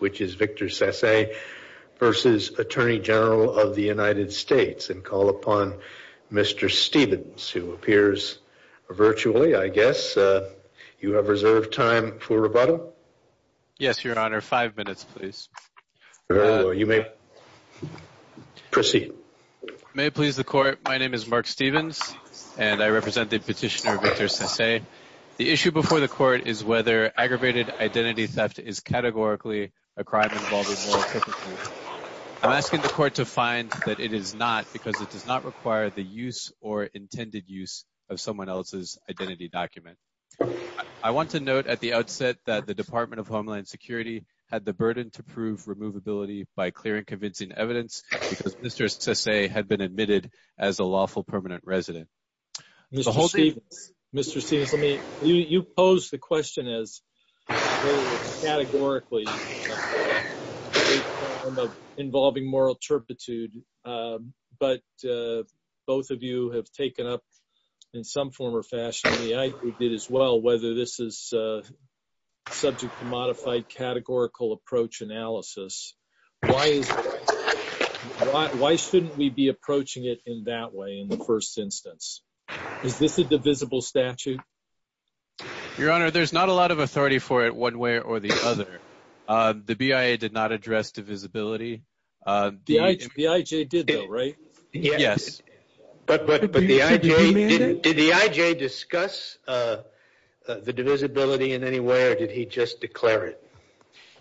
which is Victor Sasse versus Attorney General of the United States. And call upon Mr. Stevens, who appears virtually, I guess. You have reserved time for rebuttal. Yes, Your Honor. Five minutes, please. You may proceed. May it please the Court, my name is Mark Stevens, and I represent the petitioner Victor Sasse. The issue before the Court is whether aggravated identity theft is categorically a crime involving moral hypocrisy. I'm asking the Court to find that it is not, because it does not require the use or intended use of someone else's identity document. I want to note at the outset that the Department of Homeland Security had the burden to prove removability by clearing convincing evidence, because Mr. Sasse had been admitted as a lawful permanent resident. Mr. Stevens, Mr. Stevens, let me, You pose the question as categorically a crime involving moral turpitude, but both of you have taken up, in some form or fashion, and I did as well, whether this is subject to modified categorical approach analysis. Why shouldn't we be approaching it in that way in the first instance? Is this a divisible statute? Your Honor, there's not a lot of authority for it one way or the other. The BIA did not address divisibility. The IJ did though, right? Yes. But the IJ, did the IJ discuss the divisibility in any way, or did he just declare it?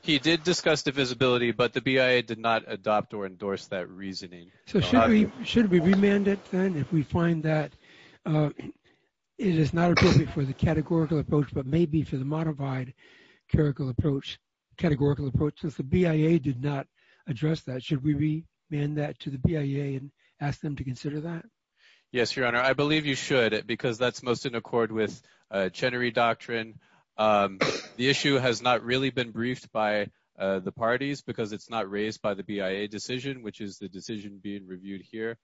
He did discuss divisibility, but the BIA did not adopt or endorse that reasoning. So should we remand it then, if we find that it is not appropriate for the categorical approach, but maybe for the modified categorical approach, since the BIA did not address that? Should we remand that to the BIA and ask them to consider that? Yes, Your Honor. I believe you should, because that's most in accord with Chenery Doctrine. The issue has not really been briefed by the parties, because it's not raised by the BIA decision, which is the decision being reviewed here.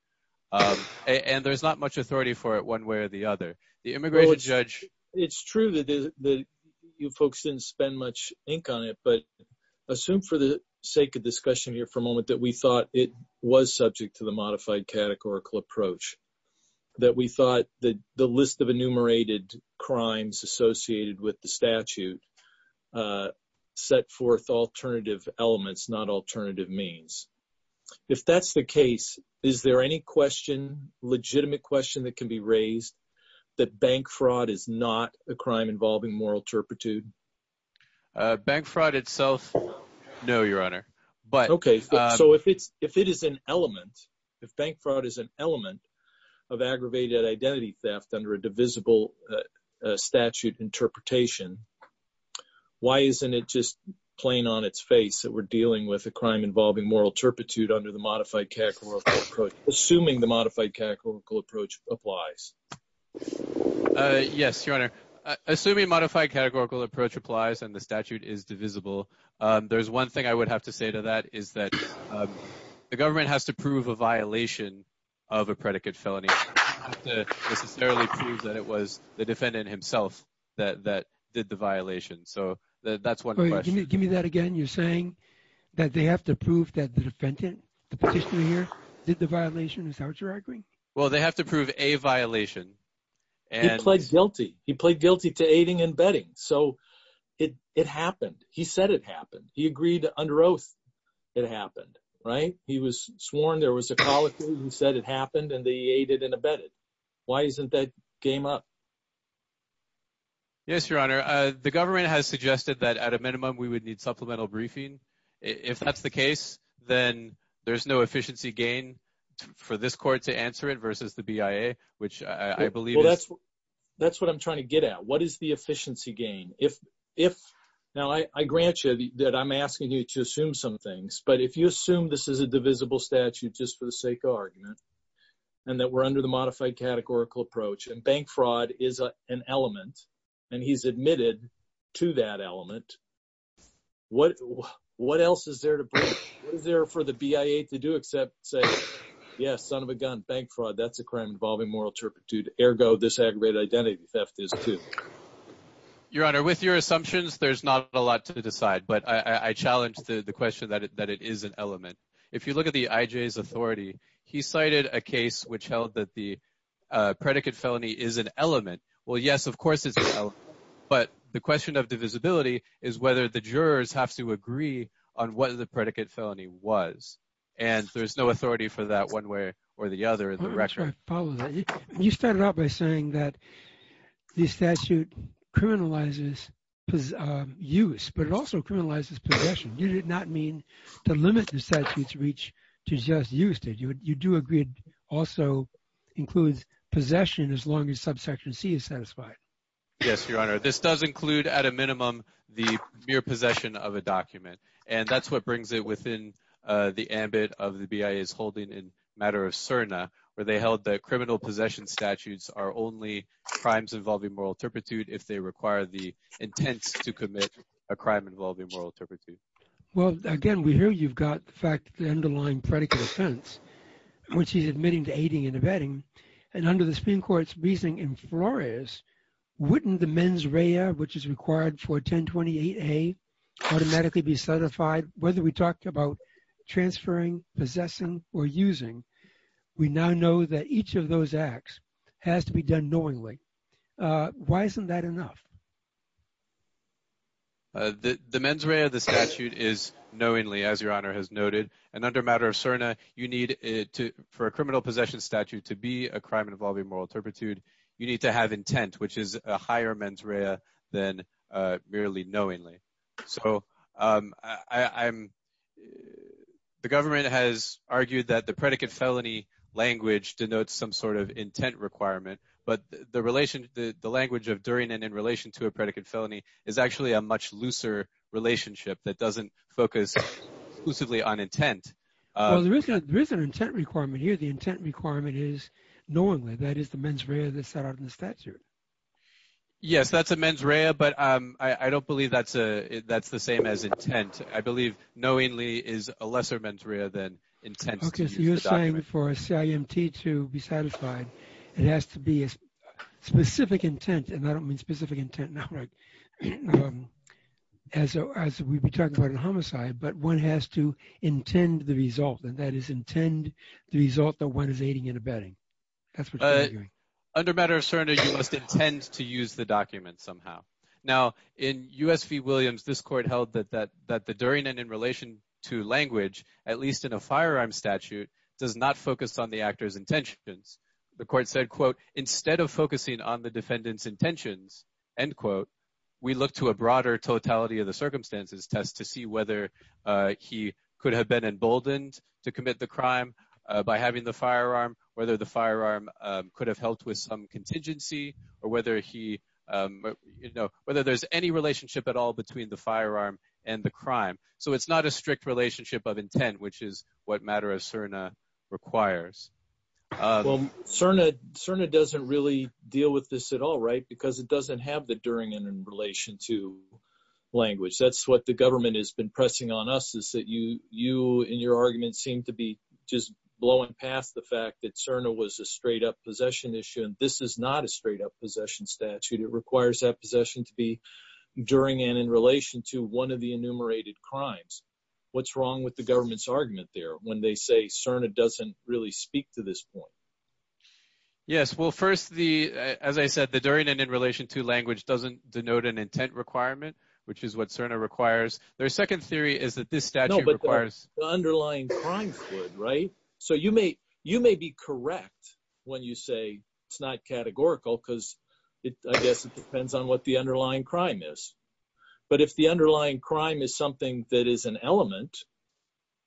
And there's not much authority for it one way or the other. The immigration judge. It's true that you folks didn't spend much ink on it, but assume for the sake of discussion here for a moment that we thought it was subject to the modified categorical approach. That we thought that the list of enumerated crimes associated with the statute set forth alternative elements, not alternative means. If that's the case, is there any question, legitimate question that can be raised, that bank fraud is not a crime involving moral turpitude? Bank fraud itself, no, Your Honor. OK, so if it is an element, if bank fraud is an element of aggravated identity theft under a divisible statute interpretation, why isn't it just plain on its face that we're dealing with a crime involving moral turpitude under the modified categorical approach, assuming the modified categorical approach applies? Yes, Your Honor. Assuming a modified categorical approach applies and the statute is divisible, there's one thing I would have to say to that is that the government has to prove a violation of a predicate felony. It doesn't have to necessarily prove that it was the defendant himself that did the violation. So that's one question. Give me that again. You're saying that they have to prove that the defendant, the petitioner here, did the violation. Is that what you're arguing? Well, they have to prove a violation. He pled guilty. He pled guilty to aiding and abetting. So it happened. He said it happened. He agreed under oath it happened, right? He was sworn there was a colloquy who said it happened and they aided and abetted. Why isn't that game up? Yes, Your Honor. The government has suggested that at a minimum we would need supplemental briefing. If that's the case, then there's no efficiency gain for this court to answer it versus the BIA, which I believe is. That's what I'm trying to get at. What is the efficiency gain? Now, I grant you that I'm asking you to assume some things, but if you assume this is a divisible statute just for the sake of argument and that we're under the modified categorical approach and bank fraud is an element and he's What else is there for the BIA to do except say, yes, son of a gun, bank fraud, that's a crime involving moral turpitude. Ergo, this aggravated identity theft is, too. Your Honor, with your assumptions, there's not a lot to decide. But I challenge the question that it is an element. If you look at the IJ's authority, he cited a case which held that the predicate felony is an element. Well, yes, of course it's an element. But the question of divisibility is whether the jurors have to agree on what the predicate felony was. And there's no authority for that one way or the other in the record. I'll try to follow that. You started out by saying that the statute criminalizes use, but it also criminalizes possession. You did not mean to limit the statute's reach to just use it. You do agree it also includes possession as long as subsection C is satisfied. Yes, Your Honor. This does include, at a minimum, the mere possession of a document. And that's what brings it within the ambit of the BIA's holding in matter of CERNA, where they held that criminal possession statutes are only crimes involving moral turpitude if they require the intents to commit a crime involving moral turpitude. Well, again, we hear you've got the underlying predicate offense, which he's admitting to aiding and abetting. And under the Supreme Court's reasoning in Flores, wouldn't the mens rea, which is required for 1028A, automatically be certified? Whether we talk about transferring, possessing, or using, we now know that each of those acts has to be done knowingly. Why isn't that enough? The mens rea of the statute is knowingly, as Your Honor has noted. And under matter of CERNA, for a criminal possession statute to be a crime involving moral turpitude, you need to have intent, which is a higher mens rea than merely knowingly. So the government has argued that the predicate felony language denotes some sort of intent requirement. But the language of during and in relation to a predicate felony is actually a much looser relationship that doesn't focus exclusively on intent. Well, there is an intent requirement here. The intent requirement is knowingly. That is the mens rea that's set out in the statute. Yes, that's a mens rea. But I don't believe that's the same as intent. I believe knowingly is a lesser mens rea than intent. OK, so you're saying for a CIMT to be satisfied, it has to be a specific intent. And I don't mean specific intent now, as we've been talking about in homicide. But one has to intend the result. And that is intend the result that one is aiding and abetting. Under matter of surrender, you must intend to use the document somehow. Now, in US v. Williams, this court held that the during and in relation to language, at least in a firearm statute, does not focus on the actor's intentions. The court said, quote, instead of focusing on the defendant's intentions, end quote, we look to a broader totality of the circumstances test to see whether he could have been emboldened to commit the crime by having the firearm, whether the firearm could have helped with some contingency, or whether there's any relationship at all between the firearm and the crime. So it's not a strict relationship of intent, which is what matter of CIRNA requires. Well, CIRNA doesn't really deal with this at all, right? Because it doesn't have the during and in relation to language. That's what the government has been pressing on us, is that you, in your argument, seem to be just blowing past the fact that CIRNA was a straight up possession issue, and this is not a straight up possession statute. It requires that possession to be during and in relation to one of the enumerated crimes. What's wrong with the government's argument there when they say CIRNA doesn't really speak to this point? Yes, well, first, as I said, the during and in relation to language doesn't denote an intent requirement, which is what CIRNA requires. Their second theory is that this statute requires- No, but the underlying crimes would, right? So you may be correct when you say it's not categorical, because I guess it depends on what the underlying crime is. But if the underlying crime is something that is an element,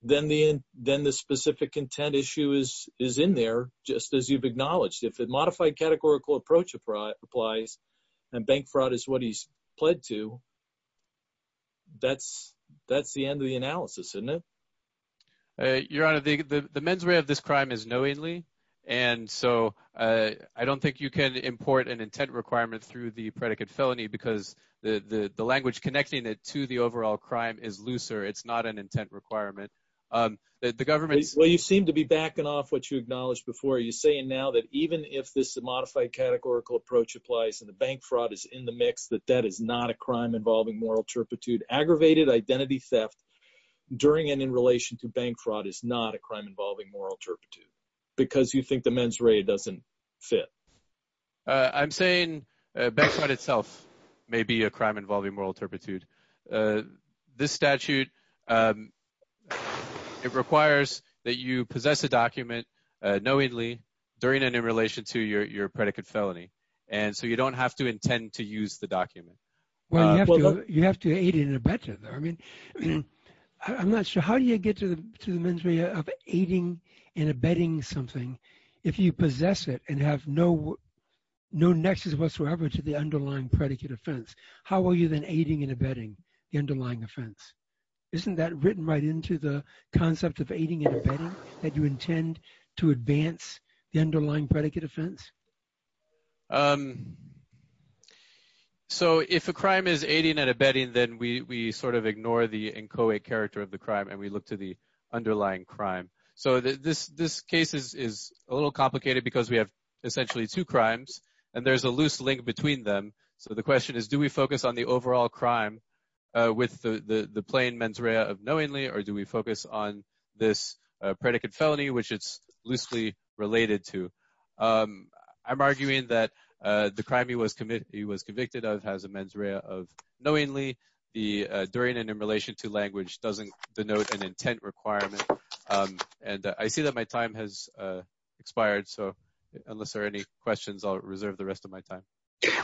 then the specific intent issue is in there, just as you've acknowledged. If a modified categorical approach applies, and bank fraud is what he's pled to, that's the end of the analysis, isn't it? Your Honor, the mens rea of this crime is knowingly. And so I don't think you can import an intent requirement through the predicate felony, because the language connecting it to the overall crime is looser. It's not an intent requirement. The government- Well, you seem to be backing off what you acknowledged before. You're saying now that even if this modified categorical approach applies, and the bank fraud is in the mix, that that is not a crime involving moral turpitude, aggravated identity theft, during and in relation to bank fraud is not a crime involving moral turpitude, because you think the mens rea doesn't fit. I'm saying bank fraud itself may be a crime involving moral turpitude. This statute, it requires that you possess a document knowingly, during and in relation to your predicate felony. And so you don't have to intend to use the document. Well, you have to aid and abet it, though. I mean, I'm not sure. How do you get to the mens rea of aiding and abetting something if you possess it and have no nexus whatsoever to the underlying predicate offense? How are you then aiding and abetting the underlying offense? Isn't that written right into the concept of aiding and abetting, that you intend to advance the underlying predicate offense? So if a crime is aiding and abetting, then we sort of ignore the inchoate character of the crime and we look to the underlying crime. So this case is a little complicated because we have essentially two crimes, and there's a loose link between them. So the question is, do we focus on the overall crime with the plain mens rea of knowingly, or do we focus on this predicate felony, which it's loosely related to? I'm arguing that the crime he was convicted of has a mens rea of knowingly. The durian in relation to language doesn't denote an intent requirement. And I see that my time has expired. So unless there are any questions, I'll reserve the rest of my time.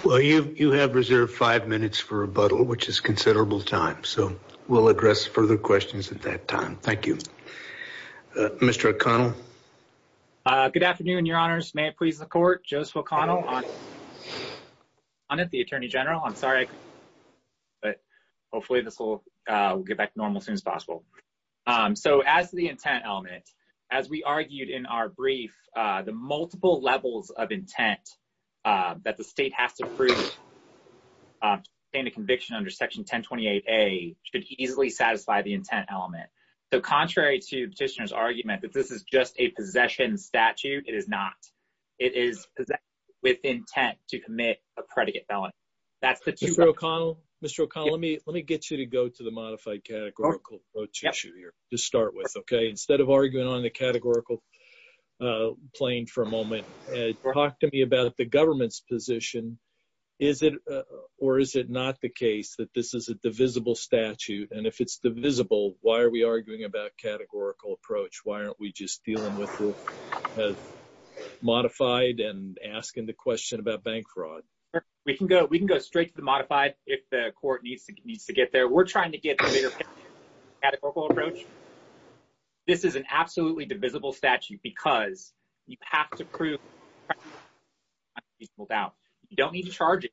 Well, you have reserved five minutes for rebuttal, which is considerable time. So we'll address further questions at that time. Thank you. Mr. O'Connell. Good afternoon, your honors. May it please the court. Joseph O'Connell. I'm at the attorney general. I'm sorry. But hopefully this will get back to normal as soon as possible. So as the intent element, as we argued in our brief, the multiple levels of intent that the state has to prove should easily satisfy the intent element. So contrary to petitioner's argument that this is just a possession statute, it is not. It is with intent to commit a predicate felony. Mr. O'Connell, let me get you to go to the modified categorical approach issue here to start with, okay. Instead of arguing on the categorical plane for a moment, talk to me about the government's position. Is it or is it not the case that this is a divisible statute? And if it's divisible, why are we arguing about categorical approach? Why aren't we just dealing with the modified and asking the question about bank fraud? Sure. We can go straight to the modified if the court needs to get there. We're trying to get to the categorical approach. This is an absolutely divisible statute because you have to prove without, you don't need to charge it.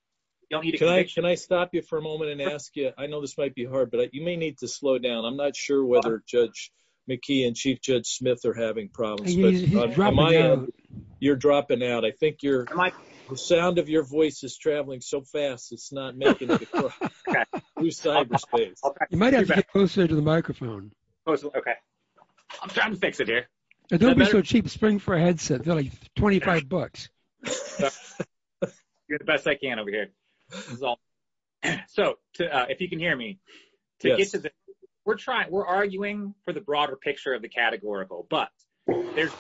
Can I stop you for a moment and ask you, I know this might be hard, but you may need to slow down. I'm not sure whether Judge McKee and Chief Judge Smith are having problems, but Amaya, you're dropping out. I think the sound of your voice is traveling so fast, it's not making it across. Okay. Through cyberspace. You might have to get closer to the microphone. Oh, okay. I'm trying to fix it here. Don't be so cheap, spring for a headset. They're like 25 bucks. You're the best I can over here. So if you can hear me, we're trying, we're arguing for the broader picture of the categorical, but the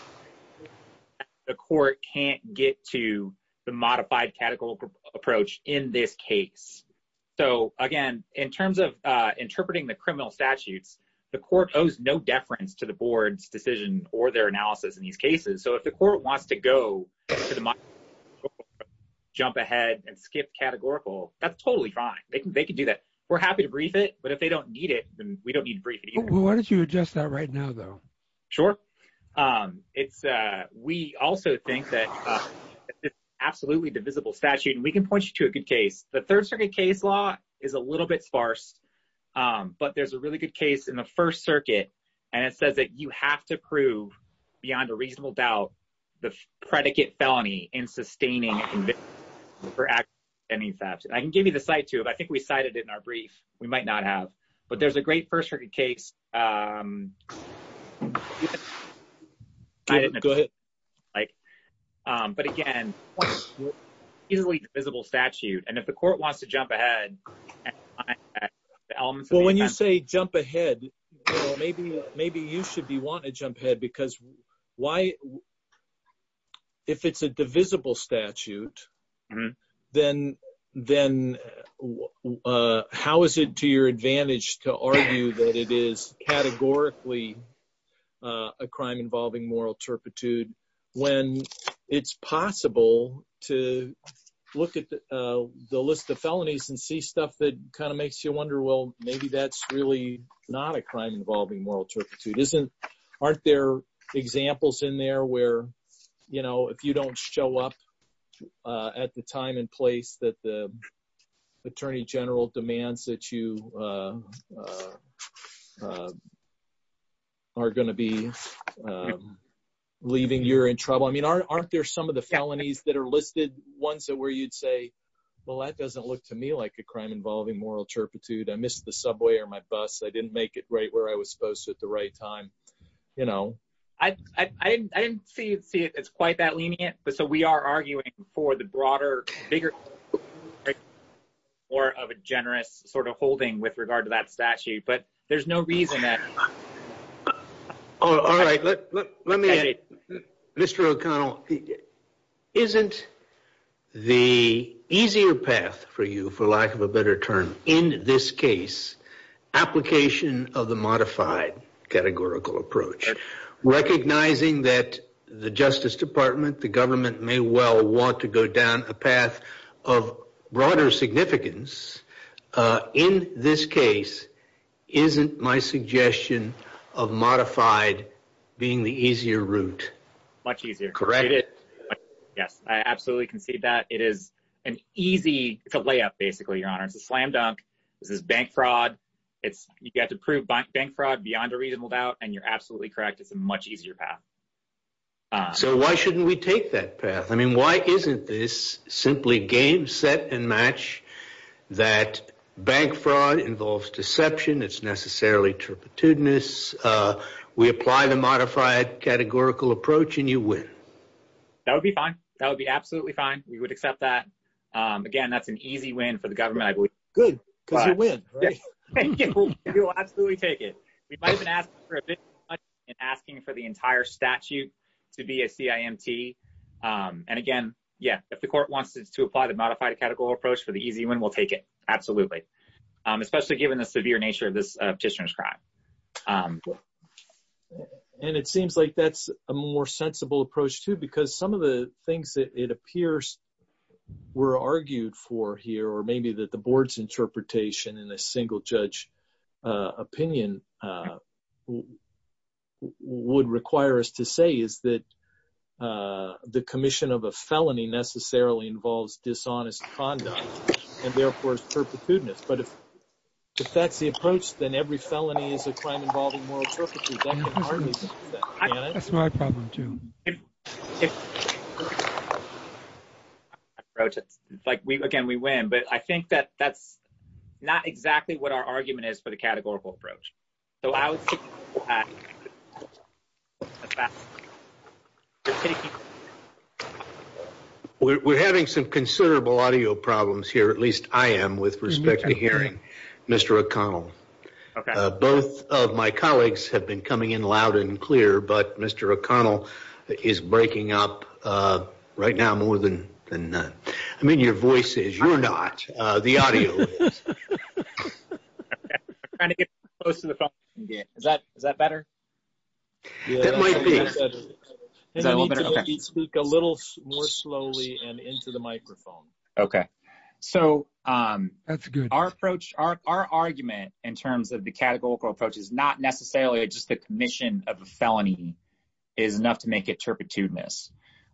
court can't get to the modified categorical approach in this case. So again, in terms of interpreting the criminal statutes, the court owes no deference to the board's decision or their analysis in these cases. So if the court wants to go jump ahead and skip categorical, that's totally fine. They can do that. We're happy to brief it, but if they don't need it, then we don't need to brief it either. Well, why don't you adjust that right now though? Sure. We also think that it's an absolutely divisible statute, and we can point you to a good case. The third circuit case law is a little bit sparse, but there's a really good case in the first circuit. And it says that you have to prove beyond a reasonable doubt, the predicate felony in sustaining conviction for aggravated offending theft. I can give you the site too, but I think we cited it in our brief. We might not have, but there's a great first circuit case. But again, easily divisible statute. And if the court wants to jump ahead... Well, when you say jump ahead, maybe you should be wanting to jump ahead because if it's a divisible statute, then how is it to your advantage to argue that it is categorically a crime involving moral turpitude when it's possible to look at the list of felonies and see stuff that kind of makes you wonder, well, maybe that's really not a crime involving moral turpitude. Aren't there examples in there where, if you don't show up at the time and place that the attorney general demands that you are gonna be leaving, you're in trouble. I mean, aren't there some of the felonies that are listed ones that where you'd say, well, that doesn't look to me like a crime involving moral turpitude. I missed the subway or my bus. I didn't make it right where I was supposed to at the right time. You know, I didn't see it. It's quite that lenient. But so we are arguing for the broader bigger or of a generous sort of holding with regard to that statute. But there's no reason that. All right, let me, Mr. O'Connell, isn't the easier path for you, for lack of a better term in this case, application of the modified categorical approach, recognizing that the Justice Department, the government may well want to go down a path of broader significance. In this case, isn't my suggestion of modified being the easier route? Much easier. Correct. Yes, I absolutely can see that. It is an easy to lay up, basically, Your Honor. It's a slam dunk. This is bank fraud. It's you got to prove bank fraud beyond a reasonable doubt. And you're absolutely correct. It's a much easier path. So why shouldn't we take that path? I mean, why isn't this simply game, set and match that bank fraud involves deception? It's necessarily turpitudinous. We apply the modified categorical approach and you win. That would be fine. That would be absolutely fine. We would accept that. Again, that's an easy win for the government. Good, because you win, right? Thank you. We will absolutely take it. We might have been asking for a bit more money in asking for the entire statute to be a CIMT. And again, yeah, if the court wants to apply the modified categorical approach for the easy win, we'll take it. Absolutely. Especially given the severe nature of this petitioner's crime. because some of the things that it appears were argued for here, or maybe that the board's interpretation in a single judge opinion would require us to say is that the commission of a felony necessarily involves dishonest conduct and therefore is turpitudinous. But if that's the approach, then every felony is a crime involving moral turpitude. That's my problem too. It's like we, again, we win, but I think that that's not exactly what our argument is for the categorical approach. So I would say that. We're having some considerable audio problems here. At least I am with respect to hearing Mr. O'Connell. Both of my colleagues have been coming in loud and clear, but Mr. O'Connell is breaking up right now more than none. I mean, your voice is, you're not. The audio is. I'm trying to get close to the phone again. Is that better? It might be. I need to speak a little more slowly and into the microphone. Okay. So our approach, our argument in terms of the categorical approach is not necessarily just the commission of a felony is enough to make it turpitudinous.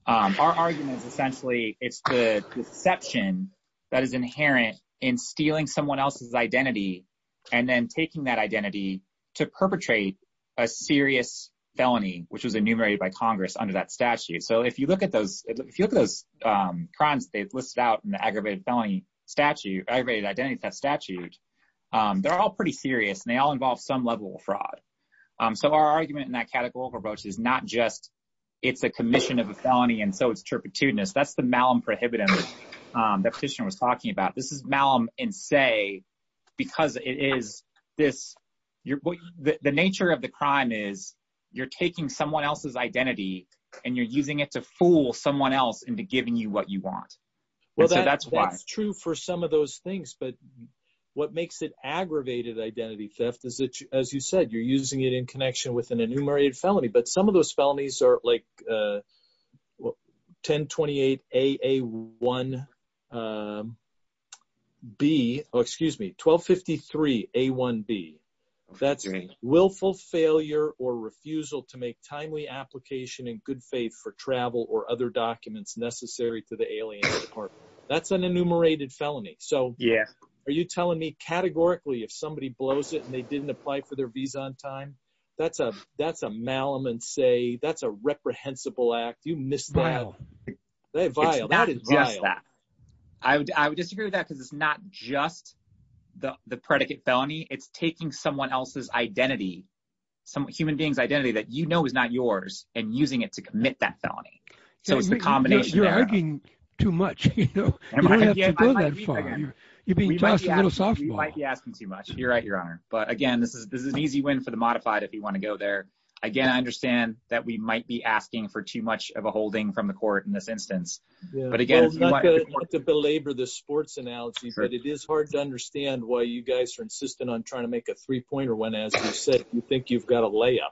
Our argument is essentially, it's the deception that is inherent in stealing someone else's identity and then taking that identity to perpetrate a serious felony, which was enumerated by Congress under that statute. So if you look at those, if you look at those crimes, they've listed out in the aggravated felony statute, aggravated identity theft statute, they're all pretty serious and they all involve some level of fraud. So our argument in that categorical approach is not just it's a commission of a felony and so it's turpitudinous. That's the malum prohibitive that petitioner was talking about. This is malum and say, because it is this, the nature of the crime is you're taking someone else's identity and you're using it to fool someone else into giving you what you want. Well, that's true for some of those things, but what makes it aggravated identity theft is that, as you said, you're using it in connection with an enumerated felony, but some of those felonies are like, 1028 AA1B, oh, excuse me, 1253 A1B. That's willful failure or refusal to make timely application in good faith for travel or other documents necessary to the aliens department. That's an enumerated felony. So are you telling me categorically if somebody blows it and they didn't apply for their visa on time, that's a malum and say, that's a reprehensible act. You missed that, that's vile. It's not just that. I would disagree with that because it's not just the predicate felony. It's taking someone else's identity, some human beings identity that you know is not yours and using it to commit that felony. So it's the combination. You're arguing too much. You don't have to go that far. You're being tossed a little softball. We might be asking too much. You're right, your honor. But again, this is an easy win for the modified if you wanna go there. Again, I understand that we might be asking for too much of a holding from the court in this instance. But again, if you want- Not to belabor the sports analogy, but it is hard to understand why you guys are insisting on trying to make a three pointer when as you said, you think you've got a layup.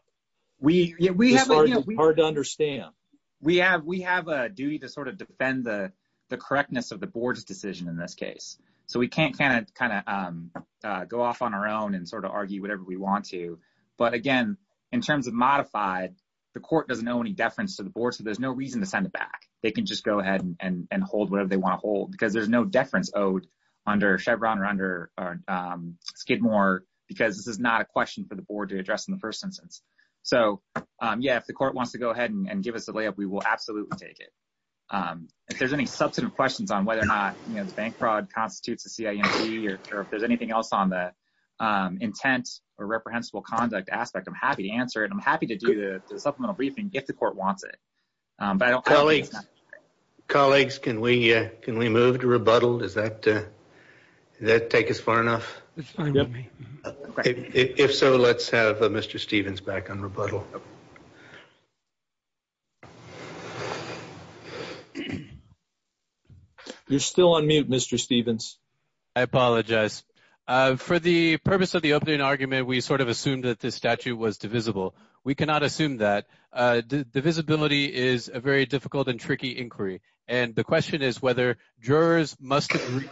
We have a- It's hard to understand. We have a duty to sort of defend the correctness of the board's decision in this case. So we can't kind of go off on our own and sort of argue whatever we want to. But again, in terms of modified, the court doesn't know any deference to the board. So there's no reason to send it back. They can just go ahead and hold whatever they wanna hold because there's no deference owed under Chevron or under Skidmore because this is not a question for the board to address in the first instance. So yeah, if the court wants to go ahead and give us a layup, we will absolutely take it. If there's any substantive questions on whether or not the bank fraud constitutes a CIE or if there's anything else on the intent or reprehensible conduct aspect, I'm happy to answer it. I'm happy to do the supplemental briefing if the court wants it. But I don't- Colleagues, colleagues, can we move to rebuttal? Does that take us far enough? It's fine with me. If so, let's have Mr. Stevens back on rebuttal. You're still on mute, Mr. Stevens. I apologize. For the purpose of the opening argument, we sort of assumed that this statute was divisible. We cannot assume that. Divisibility is a very difficult and tricky inquiry. And the question is whether jurors must agree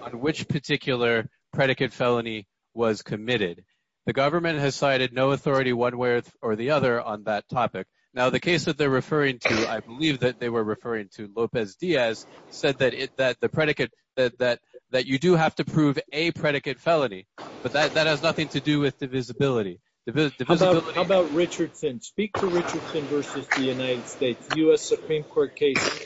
on which particular predicate felony was committed. The government has cited no authority one way or the other on that topic. Now, the case that they're referring to, I believe that they were referring to Lopez Diaz, said that the predicate, that you do have to prove a predicate felony. But that has nothing to do with divisibility. How about Richardson? Speak to Richardson versus the United States. U.S. Supreme Court case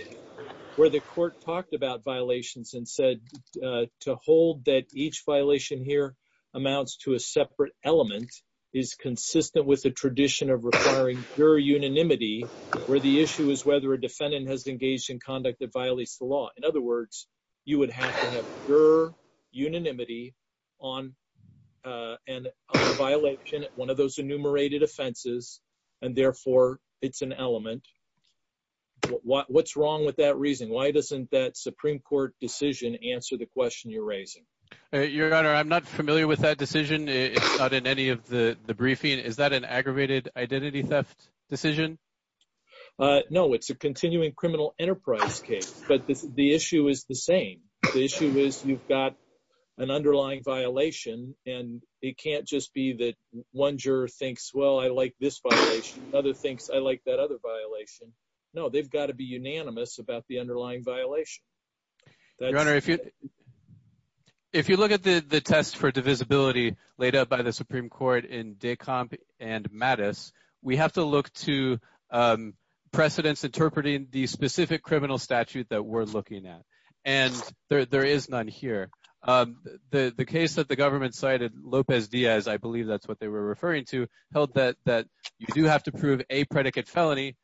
where the court talked about violations and said to hold that each violation here amounts to a separate element, is consistent with the tradition of requiring juror unanimity, where the issue is whether a defendant has engaged in conduct that violates the law. In other words, you would have to have unanimity on a violation, one of those enumerated offenses, and therefore it's an element. What's wrong with that reason? Why doesn't that Supreme Court decision answer the question you're raising? Your Honor, I'm not familiar with that decision. It's not in any of the briefing. Is that an aggravated identity theft decision? No, it's a continuing criminal enterprise case. But the issue is the same. The issue is you've got an underlying violation and it can't just be that one juror thinks, well, I like this violation. Other thinks I like that other violation. No, they've got to be unanimous about the underlying violation. Your Honor, if you look at the test for divisibility laid out by the Supreme Court in Decomp and Mattis, we have to look to precedents interpreting the specific criminal statute that we're looking at. And there is none here. The case that the government cited, Lopez Diaz, I believe that's what they were referring to, held that you do have to prove a predicate felony.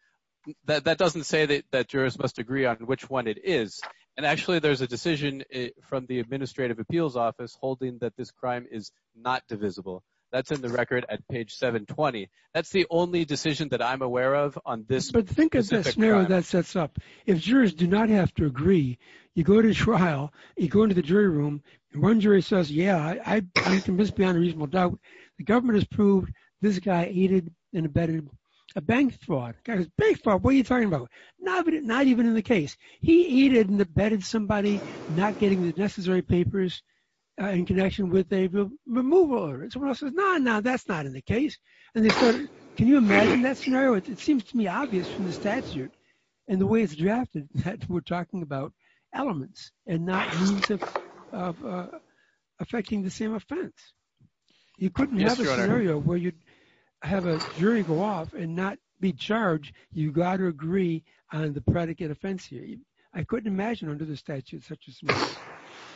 That doesn't say that jurors must agree on which one it is. And actually, there's a decision from the Administrative Appeals Office holding that this crime is not divisible. That's in the record at page 720. That's the only decision that I'm aware of on this. But think of the scenario that sets up. If jurors do not have to agree, you go to trial, you go into the jury room, and one jury says, yeah, I'm convinced beyond a reasonable doubt the government has proved this guy aided and abetted a bank fraud. The guy goes, bank fraud? What are you talking about? No, but not even in the case. He aided and abetted somebody not getting the necessary papers in connection with a removal. And someone else says, no, no, that's not in the case. And they said, can you imagine that scenario? It seems to me obvious from the statute and the way it's drafted that we're talking about elements and not means of affecting the same offense. You couldn't have a scenario where you'd have a jury go off and not be charged. You've got to agree on the predicate offense here. I couldn't imagine under the statute such a scenario.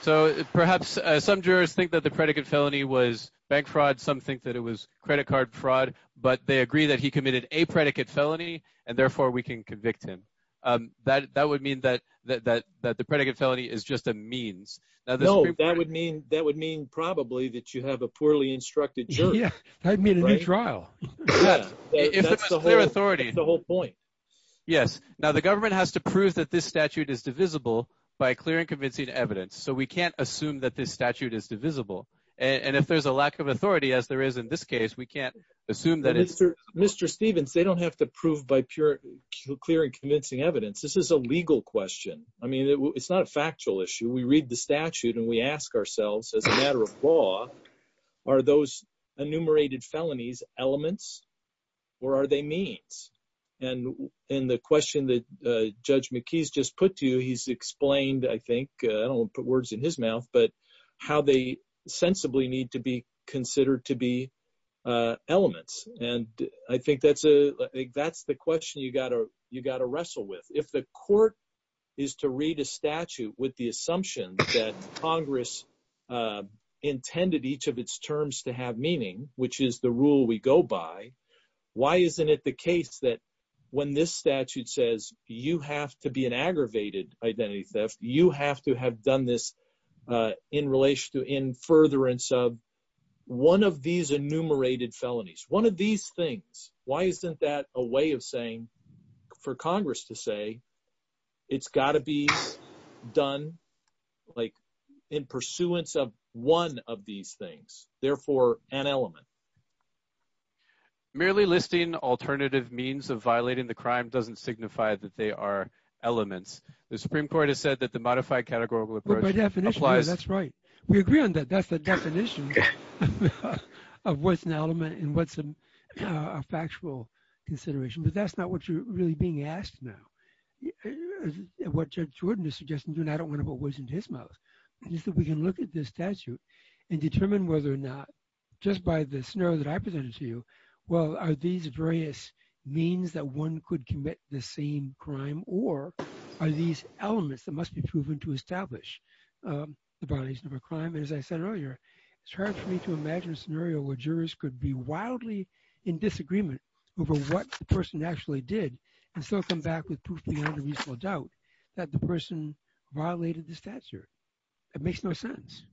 So perhaps some jurors think that the predicate felony was bank fraud. Some think that it was credit card fraud, but they agree that he committed a predicate felony, and therefore we can convict him. That would mean that the predicate felony is just a means. No, that would mean probably that you have a poorly instructed jury. Yeah, that would mean a new trial. If it was clear authority. That's the whole point. Yes. Now the government has to prove that this statute is divisible by clear and convincing evidence. So we can't assume that this statute is divisible. And if there's a lack of authority, as there is in this case, we can't assume that it's... Mr. Stevens, they don't have to prove by clear and convincing evidence. This is a legal question. I mean, it's not a factual issue. We read the statute and we ask ourselves, as a matter of law, are those enumerated felonies elements or are they means? And in the question that Judge McKee's just put to you, he's explained, I think, I don't want to put words in his mouth, but how they sensibly need to be considered to be elements. And I think that's a... you got to wrestle with. If the court is to read a statute with the assumption that Congress intended each of its terms to have meaning, which is the rule we go by, why isn't it the case that when this statute says you have to be an aggravated identity theft, you have to have done this in relation to in furtherance of one of these enumerated felonies, one of these things. Why isn't that a way of saying, for Congress to say, it's got to be done in pursuance of one of these things, therefore, an element. Merely listing alternative means of violating the crime doesn't signify that they are elements. The Supreme Court has said that the modified categorical approach... By definition, that's right. We agree on that. That's the definition of what's an element and what's a factual consideration, but that's not what you're really being asked now. What Judge Jordan is suggesting, and I don't want to put words into his mouth, is that we can look at this statute and determine whether or not, just by the scenario that I presented to you, well, are these various means that one could commit the same crime or are these elements that must be proven to establish the violation of a crime? And as I said earlier, it's hard for me to imagine a scenario where jurors could be wildly in disagreement over what the person actually did and still come back with proof beyond a reasonable doubt that the person violated the statute. It makes no sense.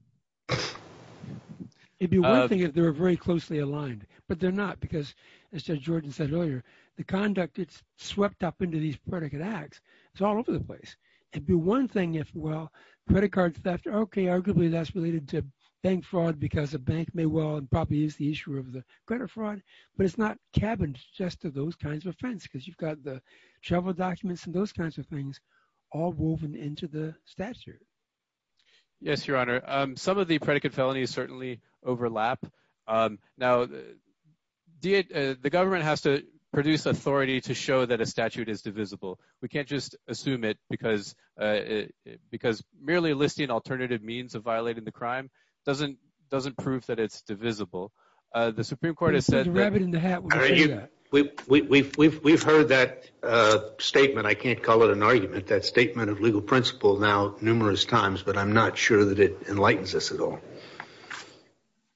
It'd be one thing if they were very closely aligned, but they're not because, as Judge Jordan said earlier, the conduct gets swept up into these predicate acts. It's all over the place. It'd be one thing if, well, credit card theft, okay, arguably that's related to bank fraud because a bank may well and probably is the issue of the credit fraud, but it's not cabined just to those kinds of offense because you've got the travel documents and those kinds of things all woven into the statute. Yes, Your Honor. Some of the predicate felonies certainly overlap. Now, the government has to produce authority to show that a statute is divisible. We can't just assume it because merely listing alternative means of violating the crime doesn't prove that it's divisible. The Supreme Court has said- The rabbit in the hat will say that. We've heard that statement. I can't call it an argument, that statement of legal principle now numerous times, but I'm not sure that it enlightens us at all.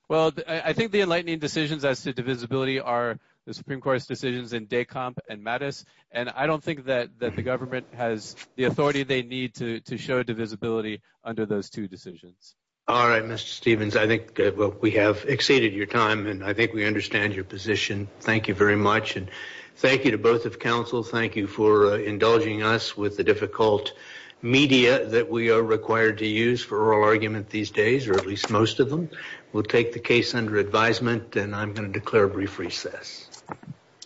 Well, I think the enlightening decisions as to divisibility are the Supreme Court's decisions in Decomp and Mattis, and I don't think that the government has the authority they need to show divisibility under those two decisions. All right, Mr. Stevens. I think we have exceeded your time, and I think we understand your position. Thank you very much, and thank you to both of counsel. Thank you for indulging us with the difficult media that we are required to use for oral argument these days, or at least most of them. We'll take the case under advisement, and I'm going to declare a brief recess.